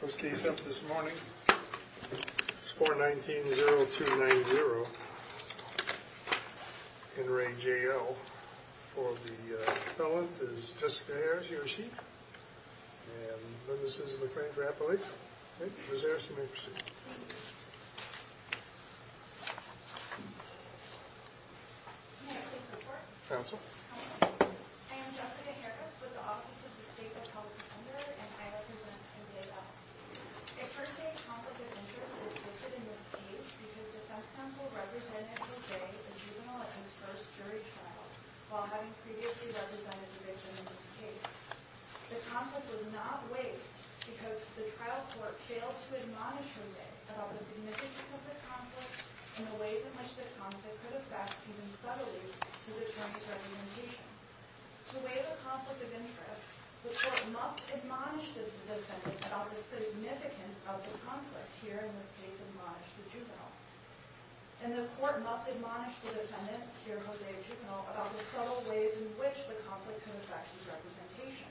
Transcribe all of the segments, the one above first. First case up this morning, it's 419-0290. In re J.L., for the felon is Jessica Harris, he or she, and witnesses in the Frank Rappley. Okay, Ms. Harris, you may proceed. Thank you. May I please report? Counsel. Counsel. I am Jessica Harris with the Office of the State Appeal Defender, and I represent Jose L. I first say conflict of interest existed in this case because Defense Counsel represented Jose, the juvenile at his first jury trial, while having previously represented the victim in this case. The conflict was not weighed because the trial court failed to admonish Jose about the significance of the conflict and the ways in which the conflict could affect, even subtly, his attorney's representation. To weigh the conflict of interest, the court must admonish the defendant about the significance of the conflict, here, in this case, admonish the juvenile. And the court must admonish the defendant, here, Jose, about the subtle ways in which the conflict can affect his representation.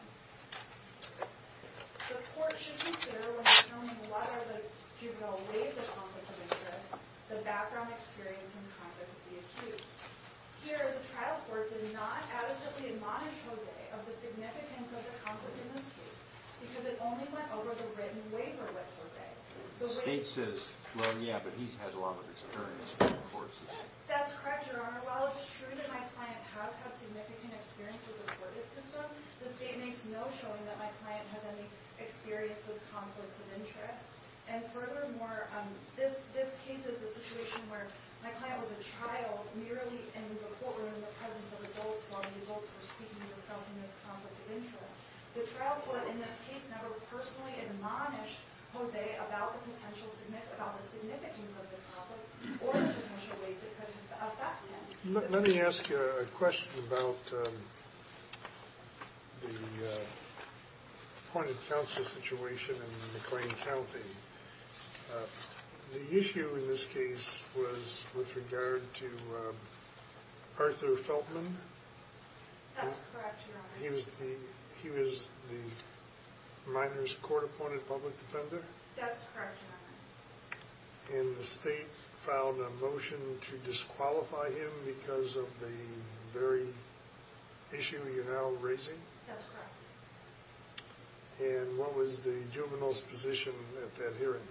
The court should consider, when determining whether the juvenile weighed the conflict of interest, the background experience in conflict with the accused. Here, the trial court did not adequately admonish Jose of the significance of the conflict in this case, because it only went over the written waiver with Jose. The state says, well, yeah, but he's had a lot of experience with the court system. That's correct, Your Honor. While it's true that my client has had significant experience with the court system, the state makes no showing that my client has any experience with conflicts of interest. And furthermore, this case is a situation where my client was a child, merely in the courtroom, in the presence of adults, while the adults were speaking and discussing this conflict of interest. The trial court, in this case, never personally admonished Jose about the significance of the conflict or the potential ways it could affect him. Let me ask you a question about the appointed counsel situation in McLean County. The issue in this case was with regard to Arthur Feltman. That's correct, Your Honor. He was the minor's court-appointed public defender? That's correct, Your Honor. And the state filed a motion to disqualify him because of the very issue you're now raising? That's correct. And what was the juvenile's position at that hearing?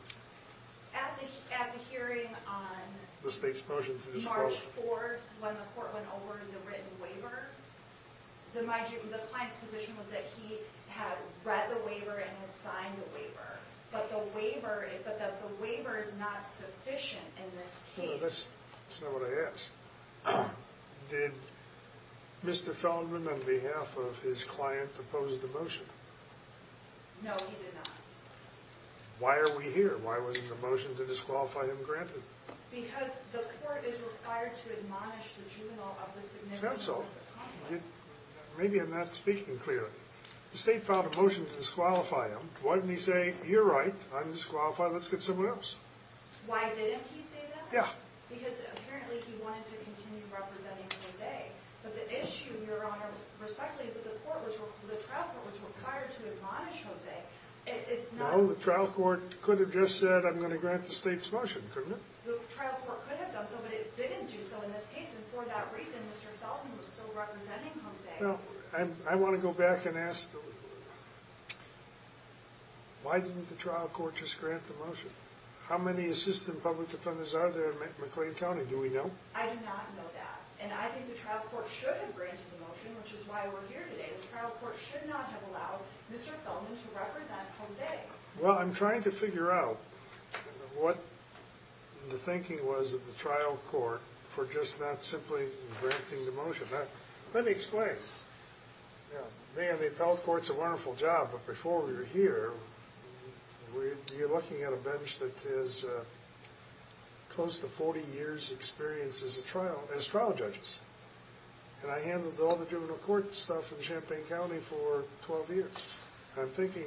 At the hearing on March 4th, when the court went over the written waiver, the client's position was that he had read the waiver and had signed the waiver. But the waiver is not sufficient in this case. That's not what I asked. Did Mr. Feltman, on behalf of his client, oppose the motion? No, he did not. Why are we here? Why was the motion to disqualify him granted? Because the court is required to admonish the juvenile of the significance of the conflict. Maybe I'm not speaking clearly. The state filed a motion to disqualify him. Why didn't he say, you're right, I'm disqualified, let's get someone else? Why didn't he say that? Yeah. Because apparently he wanted to continue representing Jose. But the issue, Your Honor, respectfully, is that the trial court was required to admonish Jose. No, the trial court could have just said, I'm going to grant the state's motion, couldn't it? The trial court could have done so, but it didn't do so in this case. And for that reason, Mr. Feltman was still representing Jose. Well, I want to go back and ask the lawyer, why didn't the trial court just grant the motion? How many assistant public defenders are there in McLean County? Do we know? I do not know that. And I think the trial court should have granted the motion, which is why we're here today. The trial court should not have allowed Mr. Feltman to represent Jose. Well, I'm trying to figure out what the thinking was of the trial court for just not simply granting the motion. Let me explain. You know, man, the appellate court's a wonderful job, but before we were here, you're looking at a bench that has close to 40 years' experience as trial judges. And I handled all the juvenile court stuff in Champaign County for 12 years. I'm thinking,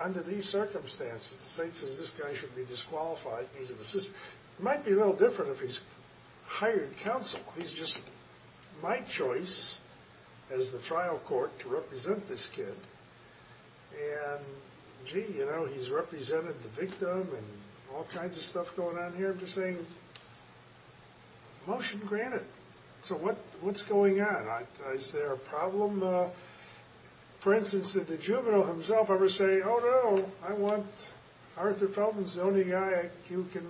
under these circumstances, the state says this guy should be disqualified, and he's an assistant. It might be a little different if he's hired counsel. He's just my choice as the trial court to represent this kid. And, gee, you know, he's represented the victim and all kinds of stuff going on here. I'm just saying, motion granted. So what's going on? Is there a problem? For instance, did the juvenile himself ever say, oh, no, I want Arthur Feltman. He's the only guy who can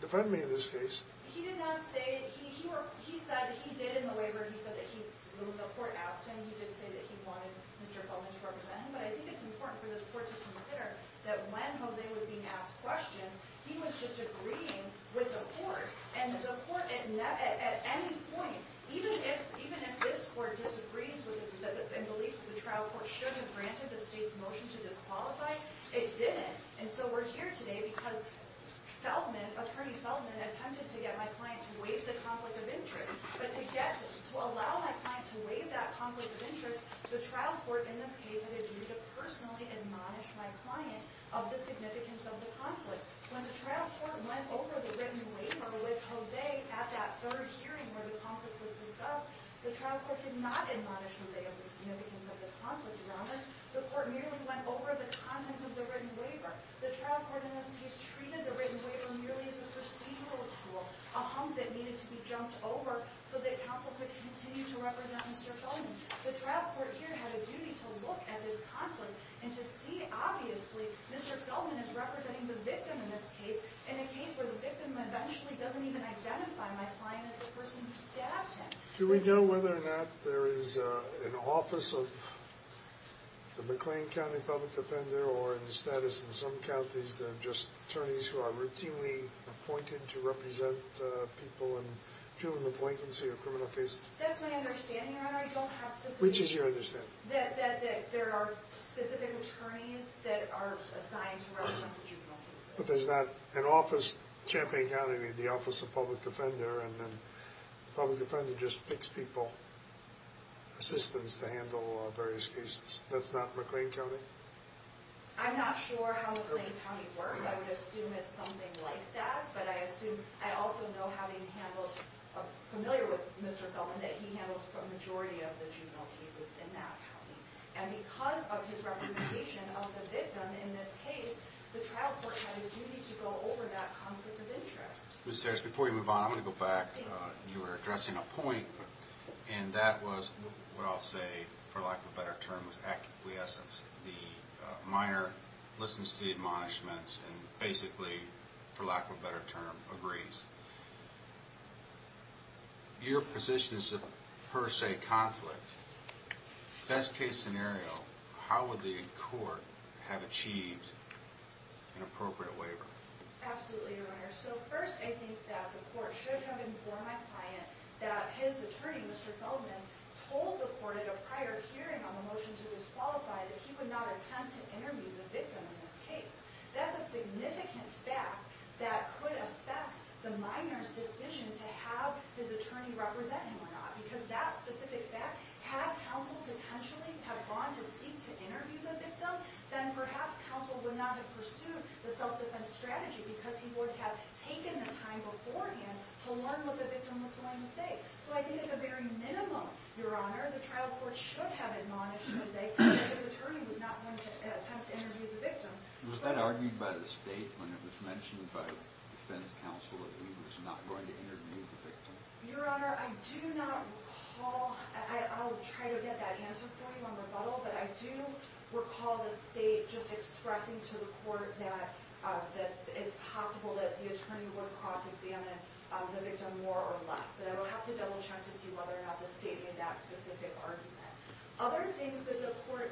defend me in this case. He did not say. He said he did in the waiver. He said that the court asked him. He did say that he wanted Mr. Feltman to represent him. But I think it's important for this court to consider that when Jose was being asked questions, he was just agreeing with the court. And the court, at any point, even if this court disagrees and believes the trial court should have granted the state's motion to disqualify, it didn't. And so we're here today because Feltman, attempted to get my client to waive the conflict of interest. But to allow my client to waive that conflict of interest, the trial court, in this case, had to personally admonish my client of the significance of the conflict. When the trial court went over the written waiver with Jose at that third hearing where the conflict was discussed, the trial court did not admonish Jose of the significance of the conflict, Your Honors. The court merely went over the contents of the written waiver. The trial court, in this case, treated the written waiver merely as a procedural tool, a hump that needed to be jumped over so that counsel could continue to represent Mr. Feltman. The trial court here had a duty to look at this conflict and to see, obviously, Mr. Feltman is representing the victim in this case, in a case where the victim eventually doesn't even identify my client as the person who stabbed him. Do we know whether or not there is an office of the McLean County Public Defender or in the status in some counties there are just attorneys who are routinely appointed to represent people in juvenile delinquency or criminal cases? That's my understanding, Your Honor. You don't have specific... Which is your understanding? That there are specific attorneys that are assigned to represent the juvenile cases. But there's not an office, Champaign County, the Office of Public Defender, and then the Public Defender just picks people, assistants, to handle various cases. That's not McLean County? I'm not sure how McLean County works. I would assume it's something like that. But I assume... I also know, having handled... I'm familiar with Mr. Feltman, that he handles the majority of the juvenile cases in that county. And because of his representation of the victim in this case, the trial court had a duty to go over that conflict of interest. Ms. Harris, before you move on, I'm going to go back. You were addressing a point, and that was what I'll say, for lack of a better term, was acquiescence. The minor listens to the admonishments and basically, for lack of a better term, agrees. Your position is a per se conflict. Best case scenario, how would the court have achieved an appropriate waiver? Absolutely, Your Honor. So first, I think that the court should have informed my client that his attorney, Mr. Feltman, told the court at a prior hearing on the motion to disqualify that he would not attempt to interview the victim in this case. That's a significant fact that could affect the minor's decision to have his attorney represent him or not. Because that specific fact, had counsel potentially have gone to seek to interview the victim, then perhaps counsel would not have pursued the self-defense strategy because he would have taken the time beforehand to learn what the victim was going to say. So I think at the very minimum, Your Honor, the trial court should have admonished Jose that his attorney was not going to attempt to interview the victim. Was that argued by the state when it was mentioned by defense counsel that he was not going to interview the victim? Your Honor, I do not recall... I'll try to get that answer for you on rebuttal, but I do recall the state just expressing to the court that it's possible that the attorney would have crossed-examined the victim more or less. But I will have to double-check to see whether or not the state made that specific argument. Other things that the court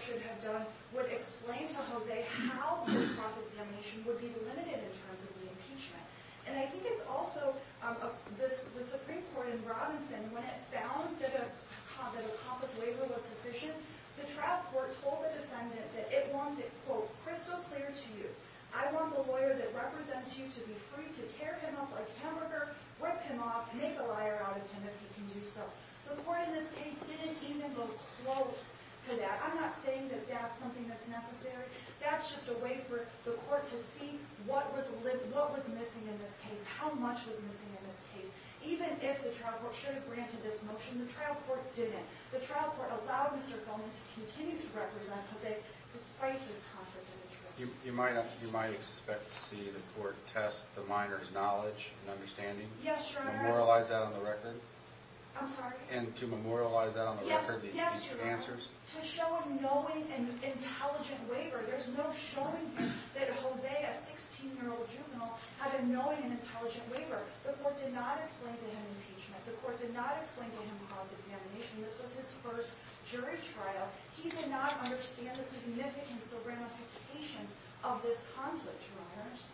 should have done would explain to Jose how this cross-examination would be limited in terms of the impeachment. And I think it's also... The Supreme Court in Robinson, when it found that a conflict waiver was sufficient, the trial court told the defendant that it wants it, quote, rip him off, make a liar out of him if he can do so. The court in this case didn't even go close to that. I'm not saying that that's something that's necessary. That's just a way for the court to see what was missing in this case, how much was missing in this case. Even if the trial court should have granted this motion, the trial court didn't. The trial court allowed Mr. Fulman to continue to represent Jose despite this conflict of interest. You might expect to see the court test the minor's knowledge and understanding. Yes, Your Honor. Memorialize that on the record. I'm sorry? And to memorialize that on the record. Yes, Your Honor. To show a knowing and intelligent waiver. There's no showing that Jose, a 16-year-old juvenile, had a knowing and intelligent waiver. The court did not explain to him impeachment. The court did not explain to him cross-examination. This was his first jury trial. He did not understand the significance or ramifications of this conflict, Your Honors.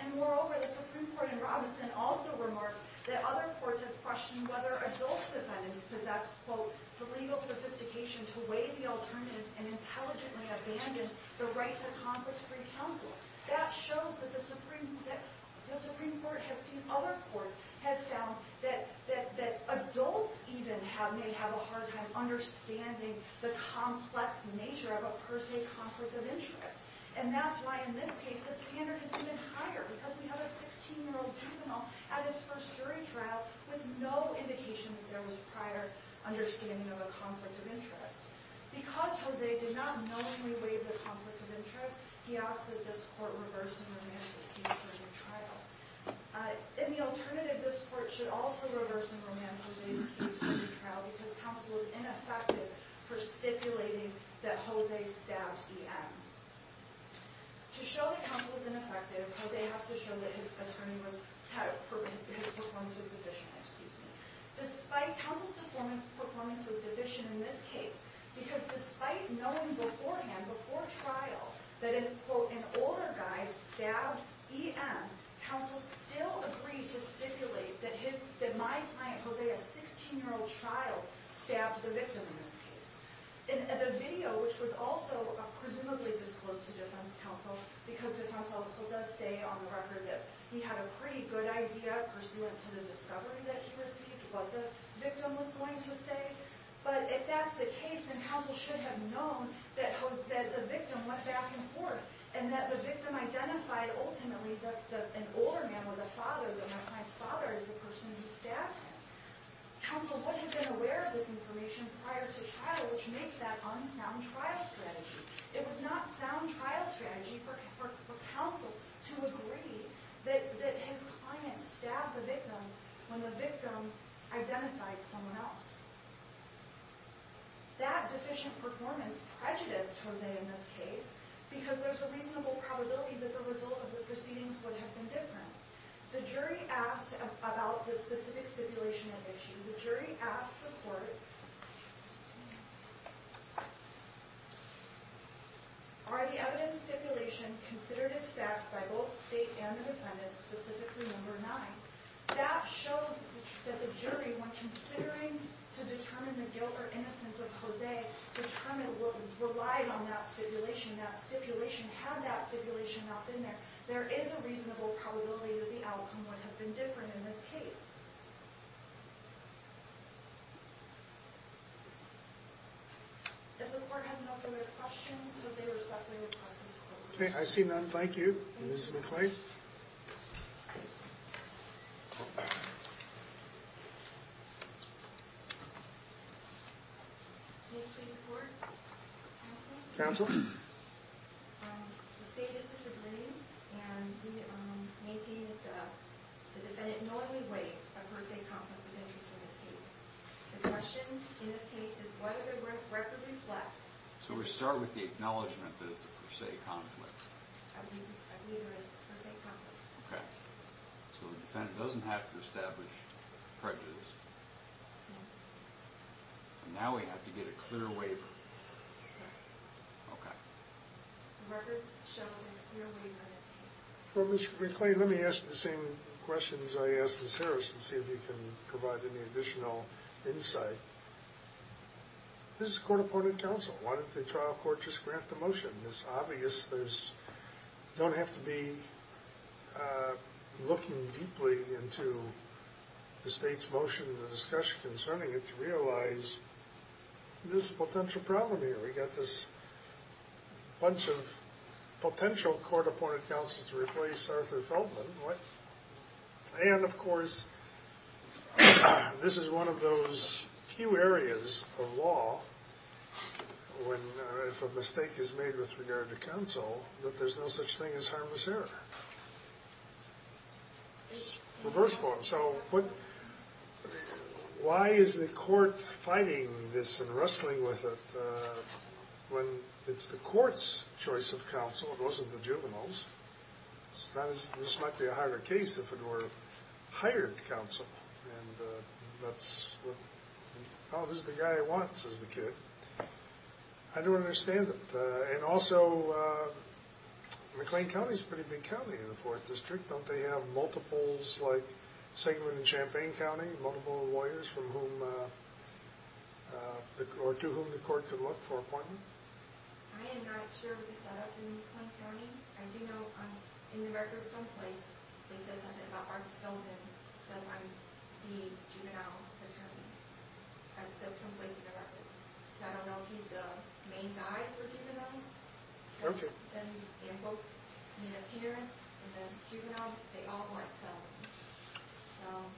And moreover, the Supreme Court in Robinson also remarked that other courts have questioned whether adult defendants possess, quote, the legal sophistication to weigh the alternatives and intelligently abandon the rights of conflict-free counsel. That shows that the Supreme Court has seen other courts have found that adults even may have a hard time understanding the complex nature of a per se conflict of interest. And that's why, in this case, the standard has been higher because we have a 16-year-old juvenile at his first jury trial with no indication that there was prior understanding of a conflict of interest. Because Jose did not knowingly waive the conflict of interest, he asked that this court reverse and remand his case during the trial. In the alternative, this court should also reverse and remand Jose's case during the trial because counsel was ineffective for stipulating that Jose stabbed EM. To show that counsel was ineffective, Jose has to show that his performance was deficient. Despite counsel's performance was deficient in this case, because despite knowing beforehand, before trial, that an older guy stabbed EM, counsel still agreed to stipulate that my client, Jose, a 16-year-old child, stabbed the victim in this case. In the video, which was also presumably disclosed to defense counsel because defense counsel does say on the record that he had a pretty good idea pursuant to the discovery that he received, what the victim was going to say. But if that's the case, then counsel should have known that the victim went back and forth, and that the victim identified ultimately that an older man, or the father, that my client's father is the person who stabbed him. Counsel would have been aware of this information prior to trial, which makes that unsound trial strategy. It was not sound trial strategy for counsel to agree that his client stabbed the victim when the victim identified someone else. That deficient performance prejudiced Jose in this case because there's a reasonable probability that the result of the proceedings would have been different. The jury asked about the specific stipulation of issue. The jury asked the court, are the evidence stipulation considered as fact by both state and the defendant, specifically number 9? That shows that the jury, when considering to determine the guilt or innocence of Jose, determined relied on that stipulation. Had that stipulation not been there, there is a reasonable probability that the outcome would have been different in this case.... If the court has no further questions, Jose, respectfully request this court. Okay, I see none. Thank you. Ms. McClay?...... Can you please report? Counsel?.............................. Ms. McClay, let me ask the same questions I asked Ms. Harris and see if you can provide any additional insight. This is a court-opponent counsel. Why didn't the trial court just grant the motion? It's obvious you don't have to be looking deeply into the state's motion and the discussion concerning it to realize there's a potential problem here. We've got this bunch of potential court-opponent counsels to replace Arthur Feldman. And, of course, this is one of those few areas of law where, if a mistake is made with regard to counsel, that there's no such thing as harmless error. So, why is the court fighting this and wrestling with it when it's the court's choice of counsel? It wasn't the juvenile's. This might be a higher case if it were hired counsel. Oh, this is the guy I want, says the kid. I don't understand it. And, also, McLean County is a pretty big county in the 4th District. Don't they have multiples like Sigmund and Champaign County, multiple lawyers from whom, or to whom the court could look for an appointment? I am not sure of the setup in McLean County. I do know, in the records someplace, they said something about Arthur Feldman, said, I'm the juvenile attorney. That's someplace in the record. So, I don't know if he's the main guy for juveniles. Then, they invoked the appearance, and then juvenile, they all went to Feldman.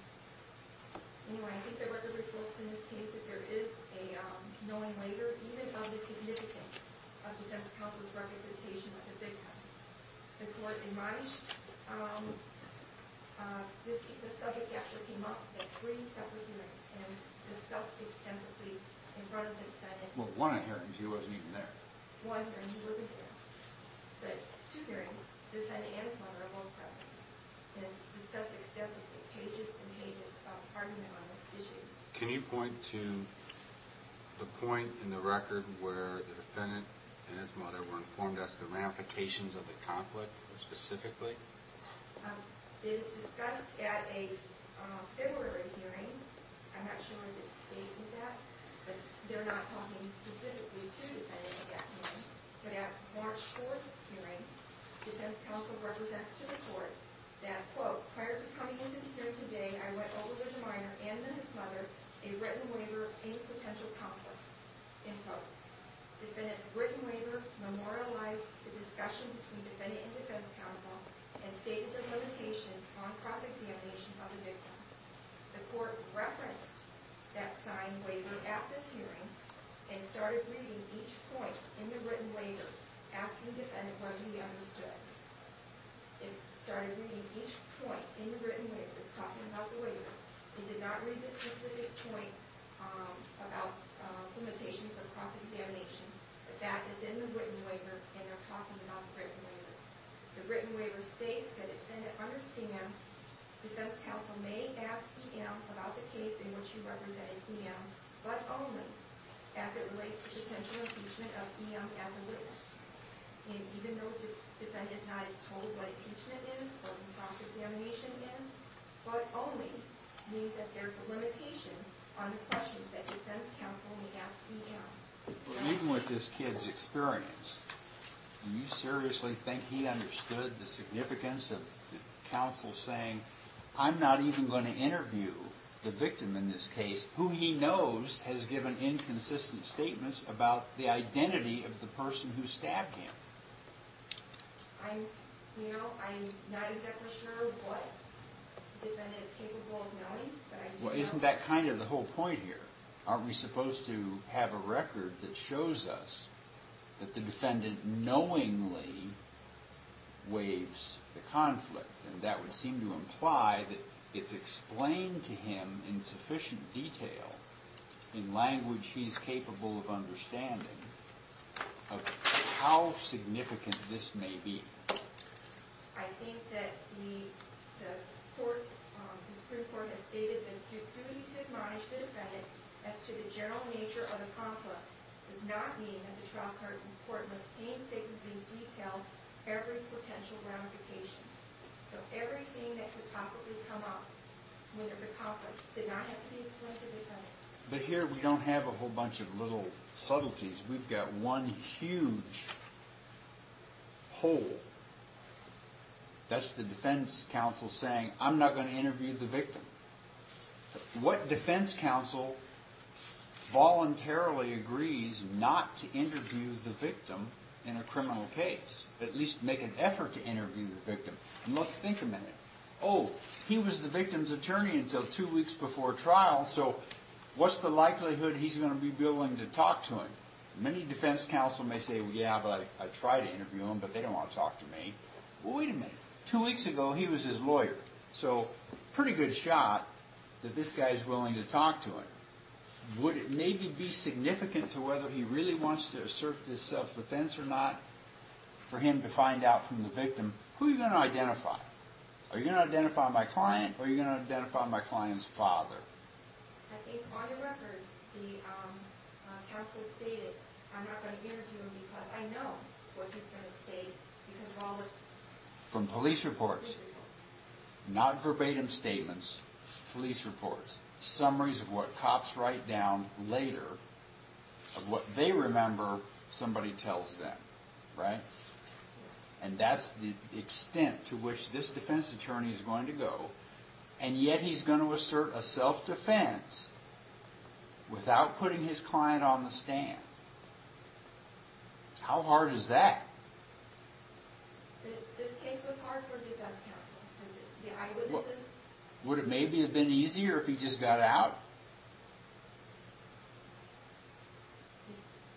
Anyway, I think there were reports in this case that there is a knowing later, even of the significance of defense counsel's representation of the victim. The court advised This subject actually came up in three separate hearings, and it was discussed extensively in front of the defendant. Well, one inheritance, he wasn't even there. One inheritance, he wasn't there. But, two hearings, the defendant and his mother are both present. And it's discussed extensively, pages and pages of argument on this issue. Can you point to the point in the record where the defendant and his mother were informed as to ramifications of the conflict, specifically? It is discussed at a February hearing. I'm not sure what the date was at, but they're not talking specifically to the defendant at that hearing. But, at March 4th hearing, defense counsel represents to the court that, quote, prior to coming into the hearing today, I went over to the minor and to his mother a written waiver in potential conflict. End quote. Defendant's written waiver memorialized the discussion between defendant and defense counsel and stated the limitation on cross-examination of the victim. The court referenced that signed waiver at this hearing and started reading each point in the written waiver, asking the defendant what he understood. It started reading each point in the written waiver. It's talking about the waiver. It did not read the specific point about limitations of cross-examination. The fact is in the written waiver and they're talking about the written waiver. The written waiver states that defendant understands defense counsel may ask EM about the case in which he represented EM, but only as it relates to potential impeachment of EM as a witness. Even though the defendant is not told what impeachment is, what cross-examination is, but only means that there's a limitation on the questions that defense counsel may ask EM. Even with this kid's experience, do you seriously think he understood the significance of counsel saying I'm not even going to interview the victim in this case, who he knows has given inconsistent statements about the identity of the person who stabbed him. I'm not exactly sure what the defendant is capable Well isn't that kind of the whole point here? Aren't we supposed to have a record that shows us that the defendant knowingly waives the conflict and that would seem to imply that it's explained to him in sufficient detail in language he's capable of understanding of how significant this may be. I think that the Supreme Court has stated that the duty to admonish the defendant as to the general nature of the conflict does not mean that the trial court must painstakingly detail every potential ramification. So everything that could possibly come up when there's a conflict did not have to be explained to the defendant. But here we don't have a whole bunch of little subtleties. We've got one huge hole. That's the defense counsel saying, I'm not going to interview the victim. What defense counsel voluntarily agrees not to interview the victim in a criminal case? At least make an effort to interview the victim. Let's think a minute. Oh, he was the victim's attorney until two weeks before trial so what's the likelihood he's going to be willing to talk to him? Many defense counsel may say, yeah, but I'd try to interview him but they don't want to talk to me. Well, wait a minute. Two weeks ago he was his lawyer. So pretty good shot that this guy's willing to talk to him. Would it maybe be significant to whether he really wants to assert his self-defense or not for him to find out from the victim who he's going to identify? Are you going to identify my client or are you going to identify my client's father? I think on the record the I'm not going to interview him because I know what he's going to say. From police reports. Not verbatim statements. Police reports. Summaries of what cops write down later of what they remember somebody tells them, right? And that's the extent to which this defense attorney is going to go and yet he's going to assert a self-defense without putting his client on the stand. How hard is that? This case was hard for the defense counsel? The eyewitnesses? Would it maybe have been easier if he just got out?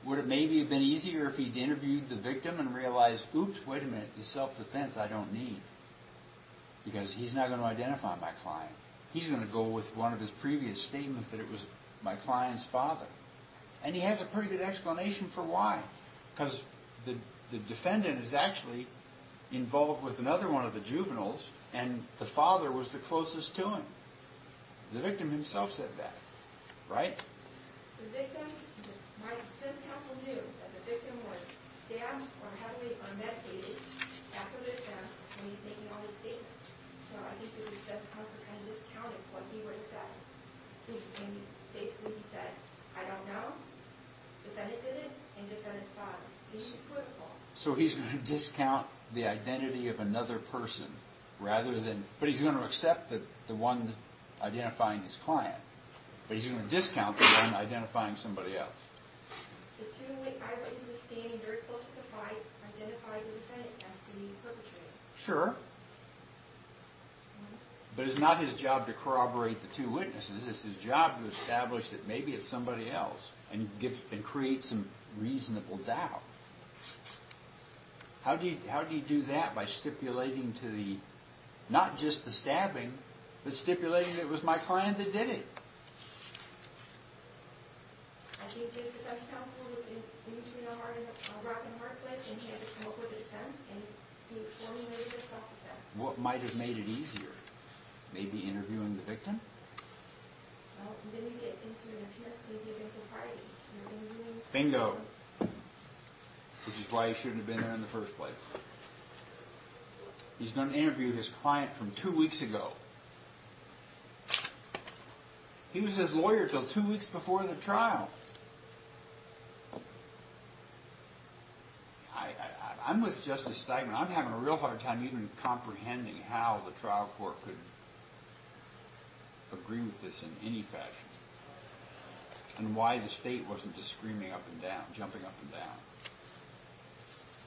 Would it maybe have been easier if he'd interviewed the victim and realized oops, wait a minute, the self-defense I don't need because he's not going to identify my client. He's going to go with one of his previous statements that it was my client's father. And he has a pretty good explanation for why. Because the defendant is actually involved with another one of the juveniles and the father was the closest to him. The victim himself said that, right? The victim, my defense counsel knew that the victim was stabbed or heavily unmedicated after the defense and he's making all these statements. So I think the defense counsel kind of discounted what he would have said. Basically he said, I don't know defendant did it and defendant's father. So he's going to discount the identity of another person rather than, but he's going to accept the one identifying his client. But he's going to discount the one identifying somebody else. The two eyewitnesses standing very close to the client identified the defendant as the perpetrator. Sure. But it's not his job to corroborate the two witnesses. It's his job to establish that maybe it's somebody else and create some reasonable doubt. How do you do that by stipulating to the not just the stabbing, but stipulating that it was my client that did it? I think the defense counsel was in between a rock and a hard place and he had to come up with a defense and he formulated a self defense. What might have made it easier? Maybe interviewing the victim? Well, then you get into an appears to be a given propriety. Bingo. Which is why he shouldn't have been there in the first place. He's going to interview his client from two weeks ago. He was his lawyer until two weeks before the trial. I'm with Justice Steinman. I'm having a real hard time even comprehending how the trial court could agree with this in any fashion. And why the state wasn't just screaming up and down. Jumping up and down.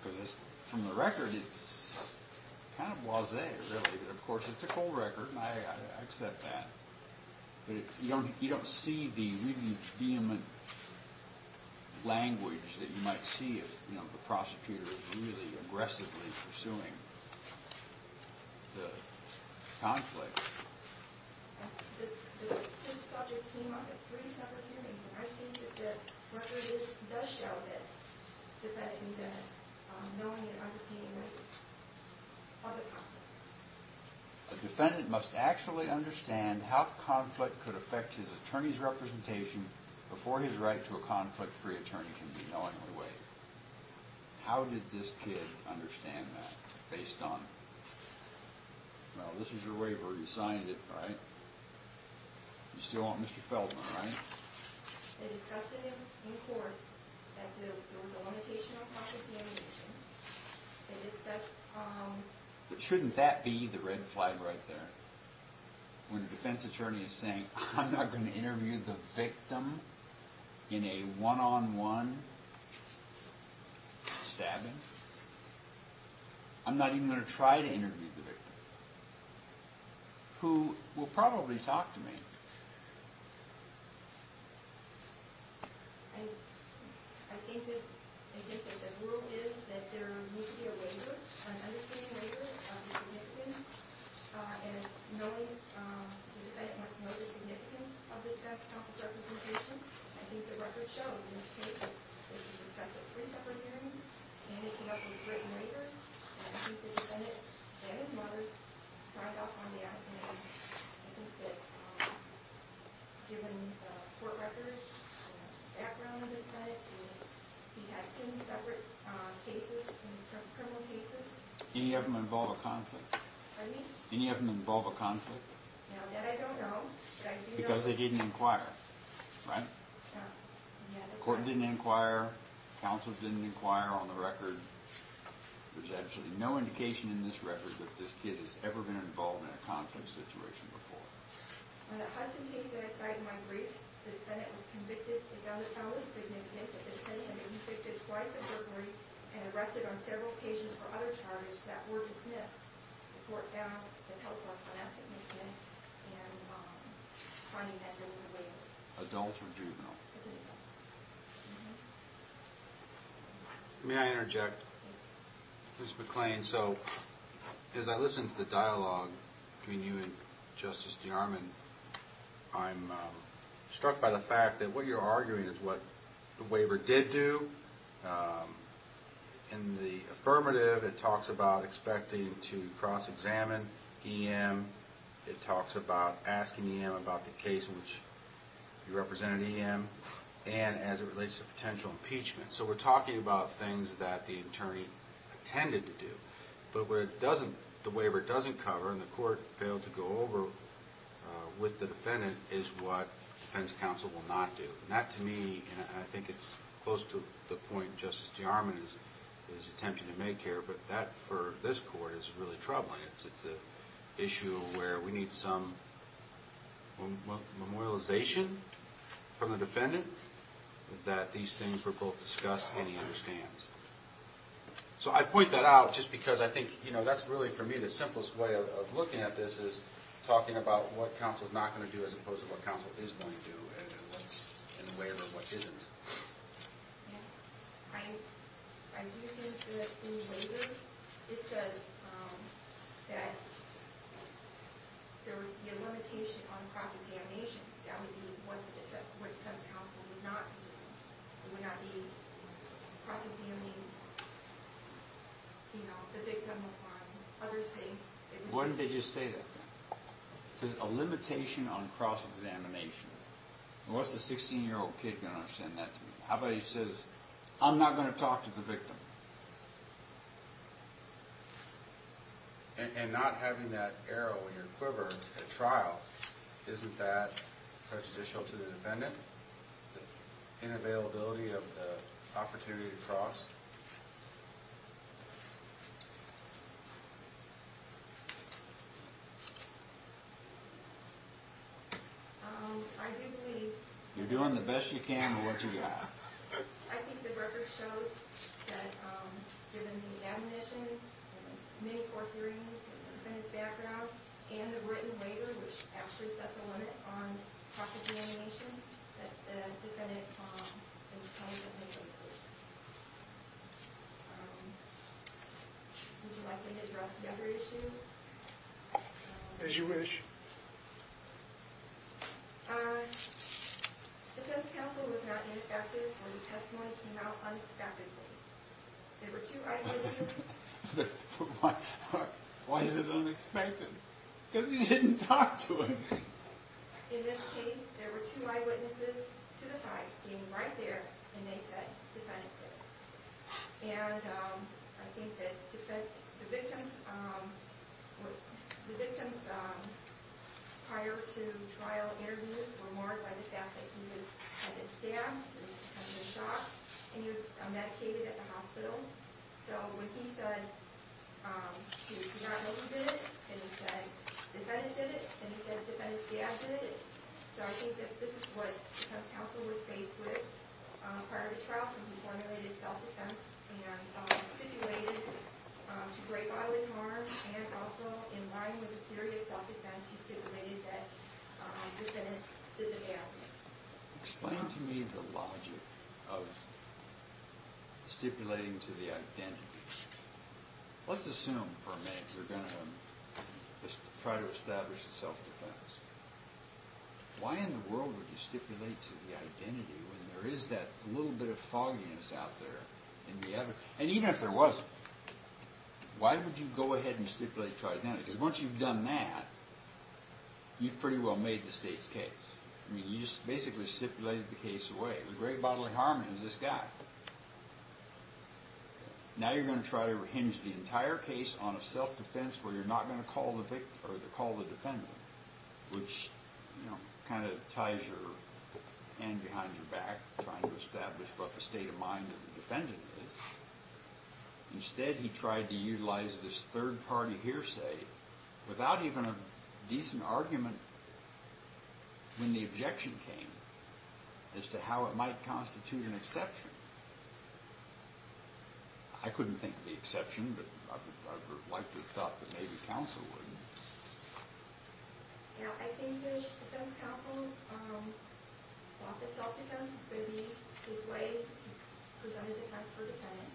Because from the record, it's kind of wasay. Of course, it's a cold record and I accept that. But you don't see the redeeming language that you might see if the prosecutor is really aggressively pursuing the conflict. The subject came up at three separate hearings and I think that whether this does show that knowing and understanding of the conflict. A defendant must actually understand how conflict could affect his attorney's representation before his right to a conflict free attorney can be knowingly waived. How did this kid understand that? Well, this is your waiver. You signed it, right? You still want Mr. Feldman, right? They discussed with him in court that there was a limitation on But shouldn't that be the red flag right there? When a defense attorney is saying, I'm not going to interview the victim in a one-on-one stabbing. I'm not even going to try to interview the victim. Who will probably talk to me. I think that the rule is that there needs to be a waiver, an understanding waiver of the significance and knowing the significance of the defense counsel's representation. I think the record shows in this case, it was discussed at three separate hearings and they came up with a written waiver and I think the defendant and his mother signed off on that and I think that given the court record and the background of the defendant he had two separate cases Any of them involve a conflict? Any of them involve a conflict? Because they didn't inquire. Court didn't inquire. Counsel didn't inquire on the record. There's absolutely no indication in this record that this kid has ever been involved in a conflict situation before. On the Hudson case that I cited in my brief, the defendant was convicted twice of burglary and arrested on several occasions for other charges that were dismissed. The court found that help was not significant and finding that there was a waiver. Adult or juvenile? May I interject? As I listen to the dialogue between you and Justice DeArmond, I'm struck by the fact that what you're arguing is what the waiver did do in the affirmative, it talks about expecting to cross-examine EM, it talks about asking EM about the case in which you represented EM and as it relates to potential impeachment. So we're talking about things that the attorney intended to do. But what the waiver doesn't cover and the court failed to go over with the defendant is what defense counsel will not do. That to me, and I think it's close to the point Justice DeArmond is attempting to make here, but that for this court is really troubling. It's an issue where we need some memorialization from the defendant that these things were both discussed and he understands. So I point that out just because I think that's really for me the simplest way of looking at this is talking about what counsel is not going to do as opposed to what counsel is going to do and what's in the waiver and what isn't. I'm using the new waiver. It says that there would be a limitation on cross-examination. That would mean what defense counsel would not be cross-examining the victim on other things. Why did they just say that? There's a limitation on cross-examination. What's a 16-year-old kid going to understand that? How about he says, I'm not going to talk to the victim? And not having that arrow in your quiver at trial, isn't that prejudicial to the defendant? The inavailability of the opportunity to cross? I do believe You're doing the best you can with what you got. I think the record shows that given the admonitions and many court hearings and the defendant's background and the written waiver, which actually sets a limit on cross-examination that the defendant is kind of in the waiver. Would you like me to address another issue? As you wish. Defense counsel was not inspective when the testimony came out unexpectedly. There were two eyewitnesses. Why is it unexpected? Because you didn't talk to him. In this case, there were two eyewitnesses to the side standing right there and they said, defendant to. And I think that the victim the victim's prior to trial interviews were marred by the fact that he was had been stabbed and had been shot and he was medicated at the hospital. So when he said he did not know who did it and he said defendant did it and he said defendant did it so I think that this is what defense counsel was faced with prior to trial. So he formulated self-defense and stipulated to break bodily harm and also in line with the theory of self-defense he stipulated that defendant did the nail. Explain to me the logic of stipulating to the identity. Let's assume for a minute we're going to try to establish a self-defense. Why in the world would you stipulate to the identity when there is that little bit of fogginess out there in the evidence? And even if there wasn't, why would you go ahead and stipulate to identity? Because once you've done that you've pretty well made the state's case. I mean you just basically stipulated the case away. Break bodily harm is this guy. Now you're going to try to hinge the entire case on a self-defense where you're not going to call the victim or call the defendant which kind of ties your hand behind your back trying to establish what the state of mind of the defendant is. Instead he tried to utilize this third party hearsay without even a decent argument when the objection came as to how it might constitute an exception. I couldn't think of the exception but I would have liked to have thought that maybe counsel would. Now I think the defense counsel thought that self-defense was going to be a good way to present a defense for a defendant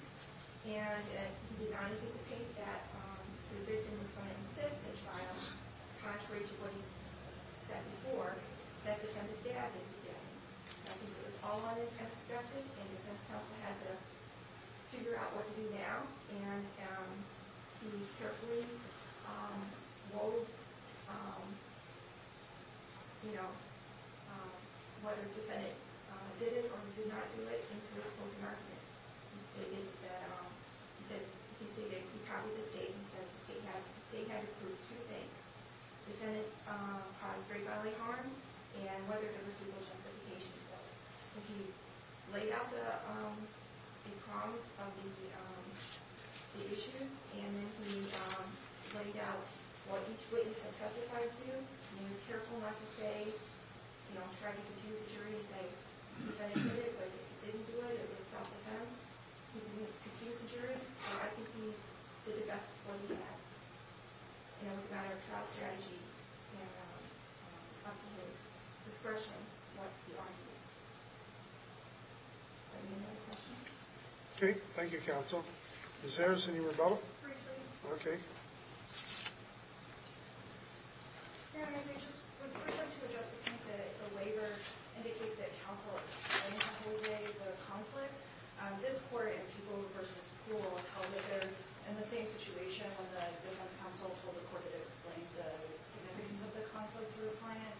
and he did not anticipate that the victim was going to insist and try contrary to what he said before that the defendant's dad didn't stand. So I think it was all on the defense counsel and the defense counsel had to figure out what to do now and he carefully wove you know whether the defendant did it or did not do it into his closing argument. He said he copied the state and says the state had approved two things. Defendant caused break bodily harm and whether there was legal justification for it. So he laid out the prongs of the issues and then he laid out what each witness had testified to and he was careful not to say you know try to confuse the jury and say defendant did it, defendant didn't do it, it was self-defense. He didn't confuse the jury but I think he did the best point he had. It was a matter of trial strategy and up to his discretion what he argued. Any other questions? Okay, thank you counsel. Ms. Harrison you were about? Briefly. Okay. First I'd like to address the point that the waiver indicates that counsel explained to Jose the conflict. This court and people who were held there in the same situation when the defense counsel told the court to explain the significance of the conflict to the client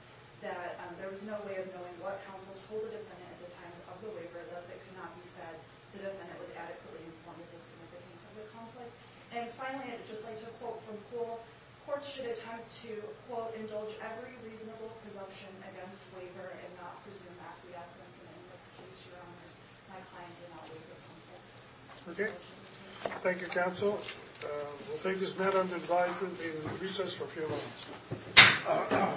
that there was no way of knowing what counsel told the defendant at the time of the waiver lest it could not be said the defendant was adequately informed of the significance of the conflict. And finally I'd just like to quote from Kohl. Courts should attempt to quote indulge every reasonable presumption against waiver and not presume that the essence and in this case, your honor, my client did not waive the conflict. Okay. Thank you counsel. We'll take this matter under advisory in recess for a few moments.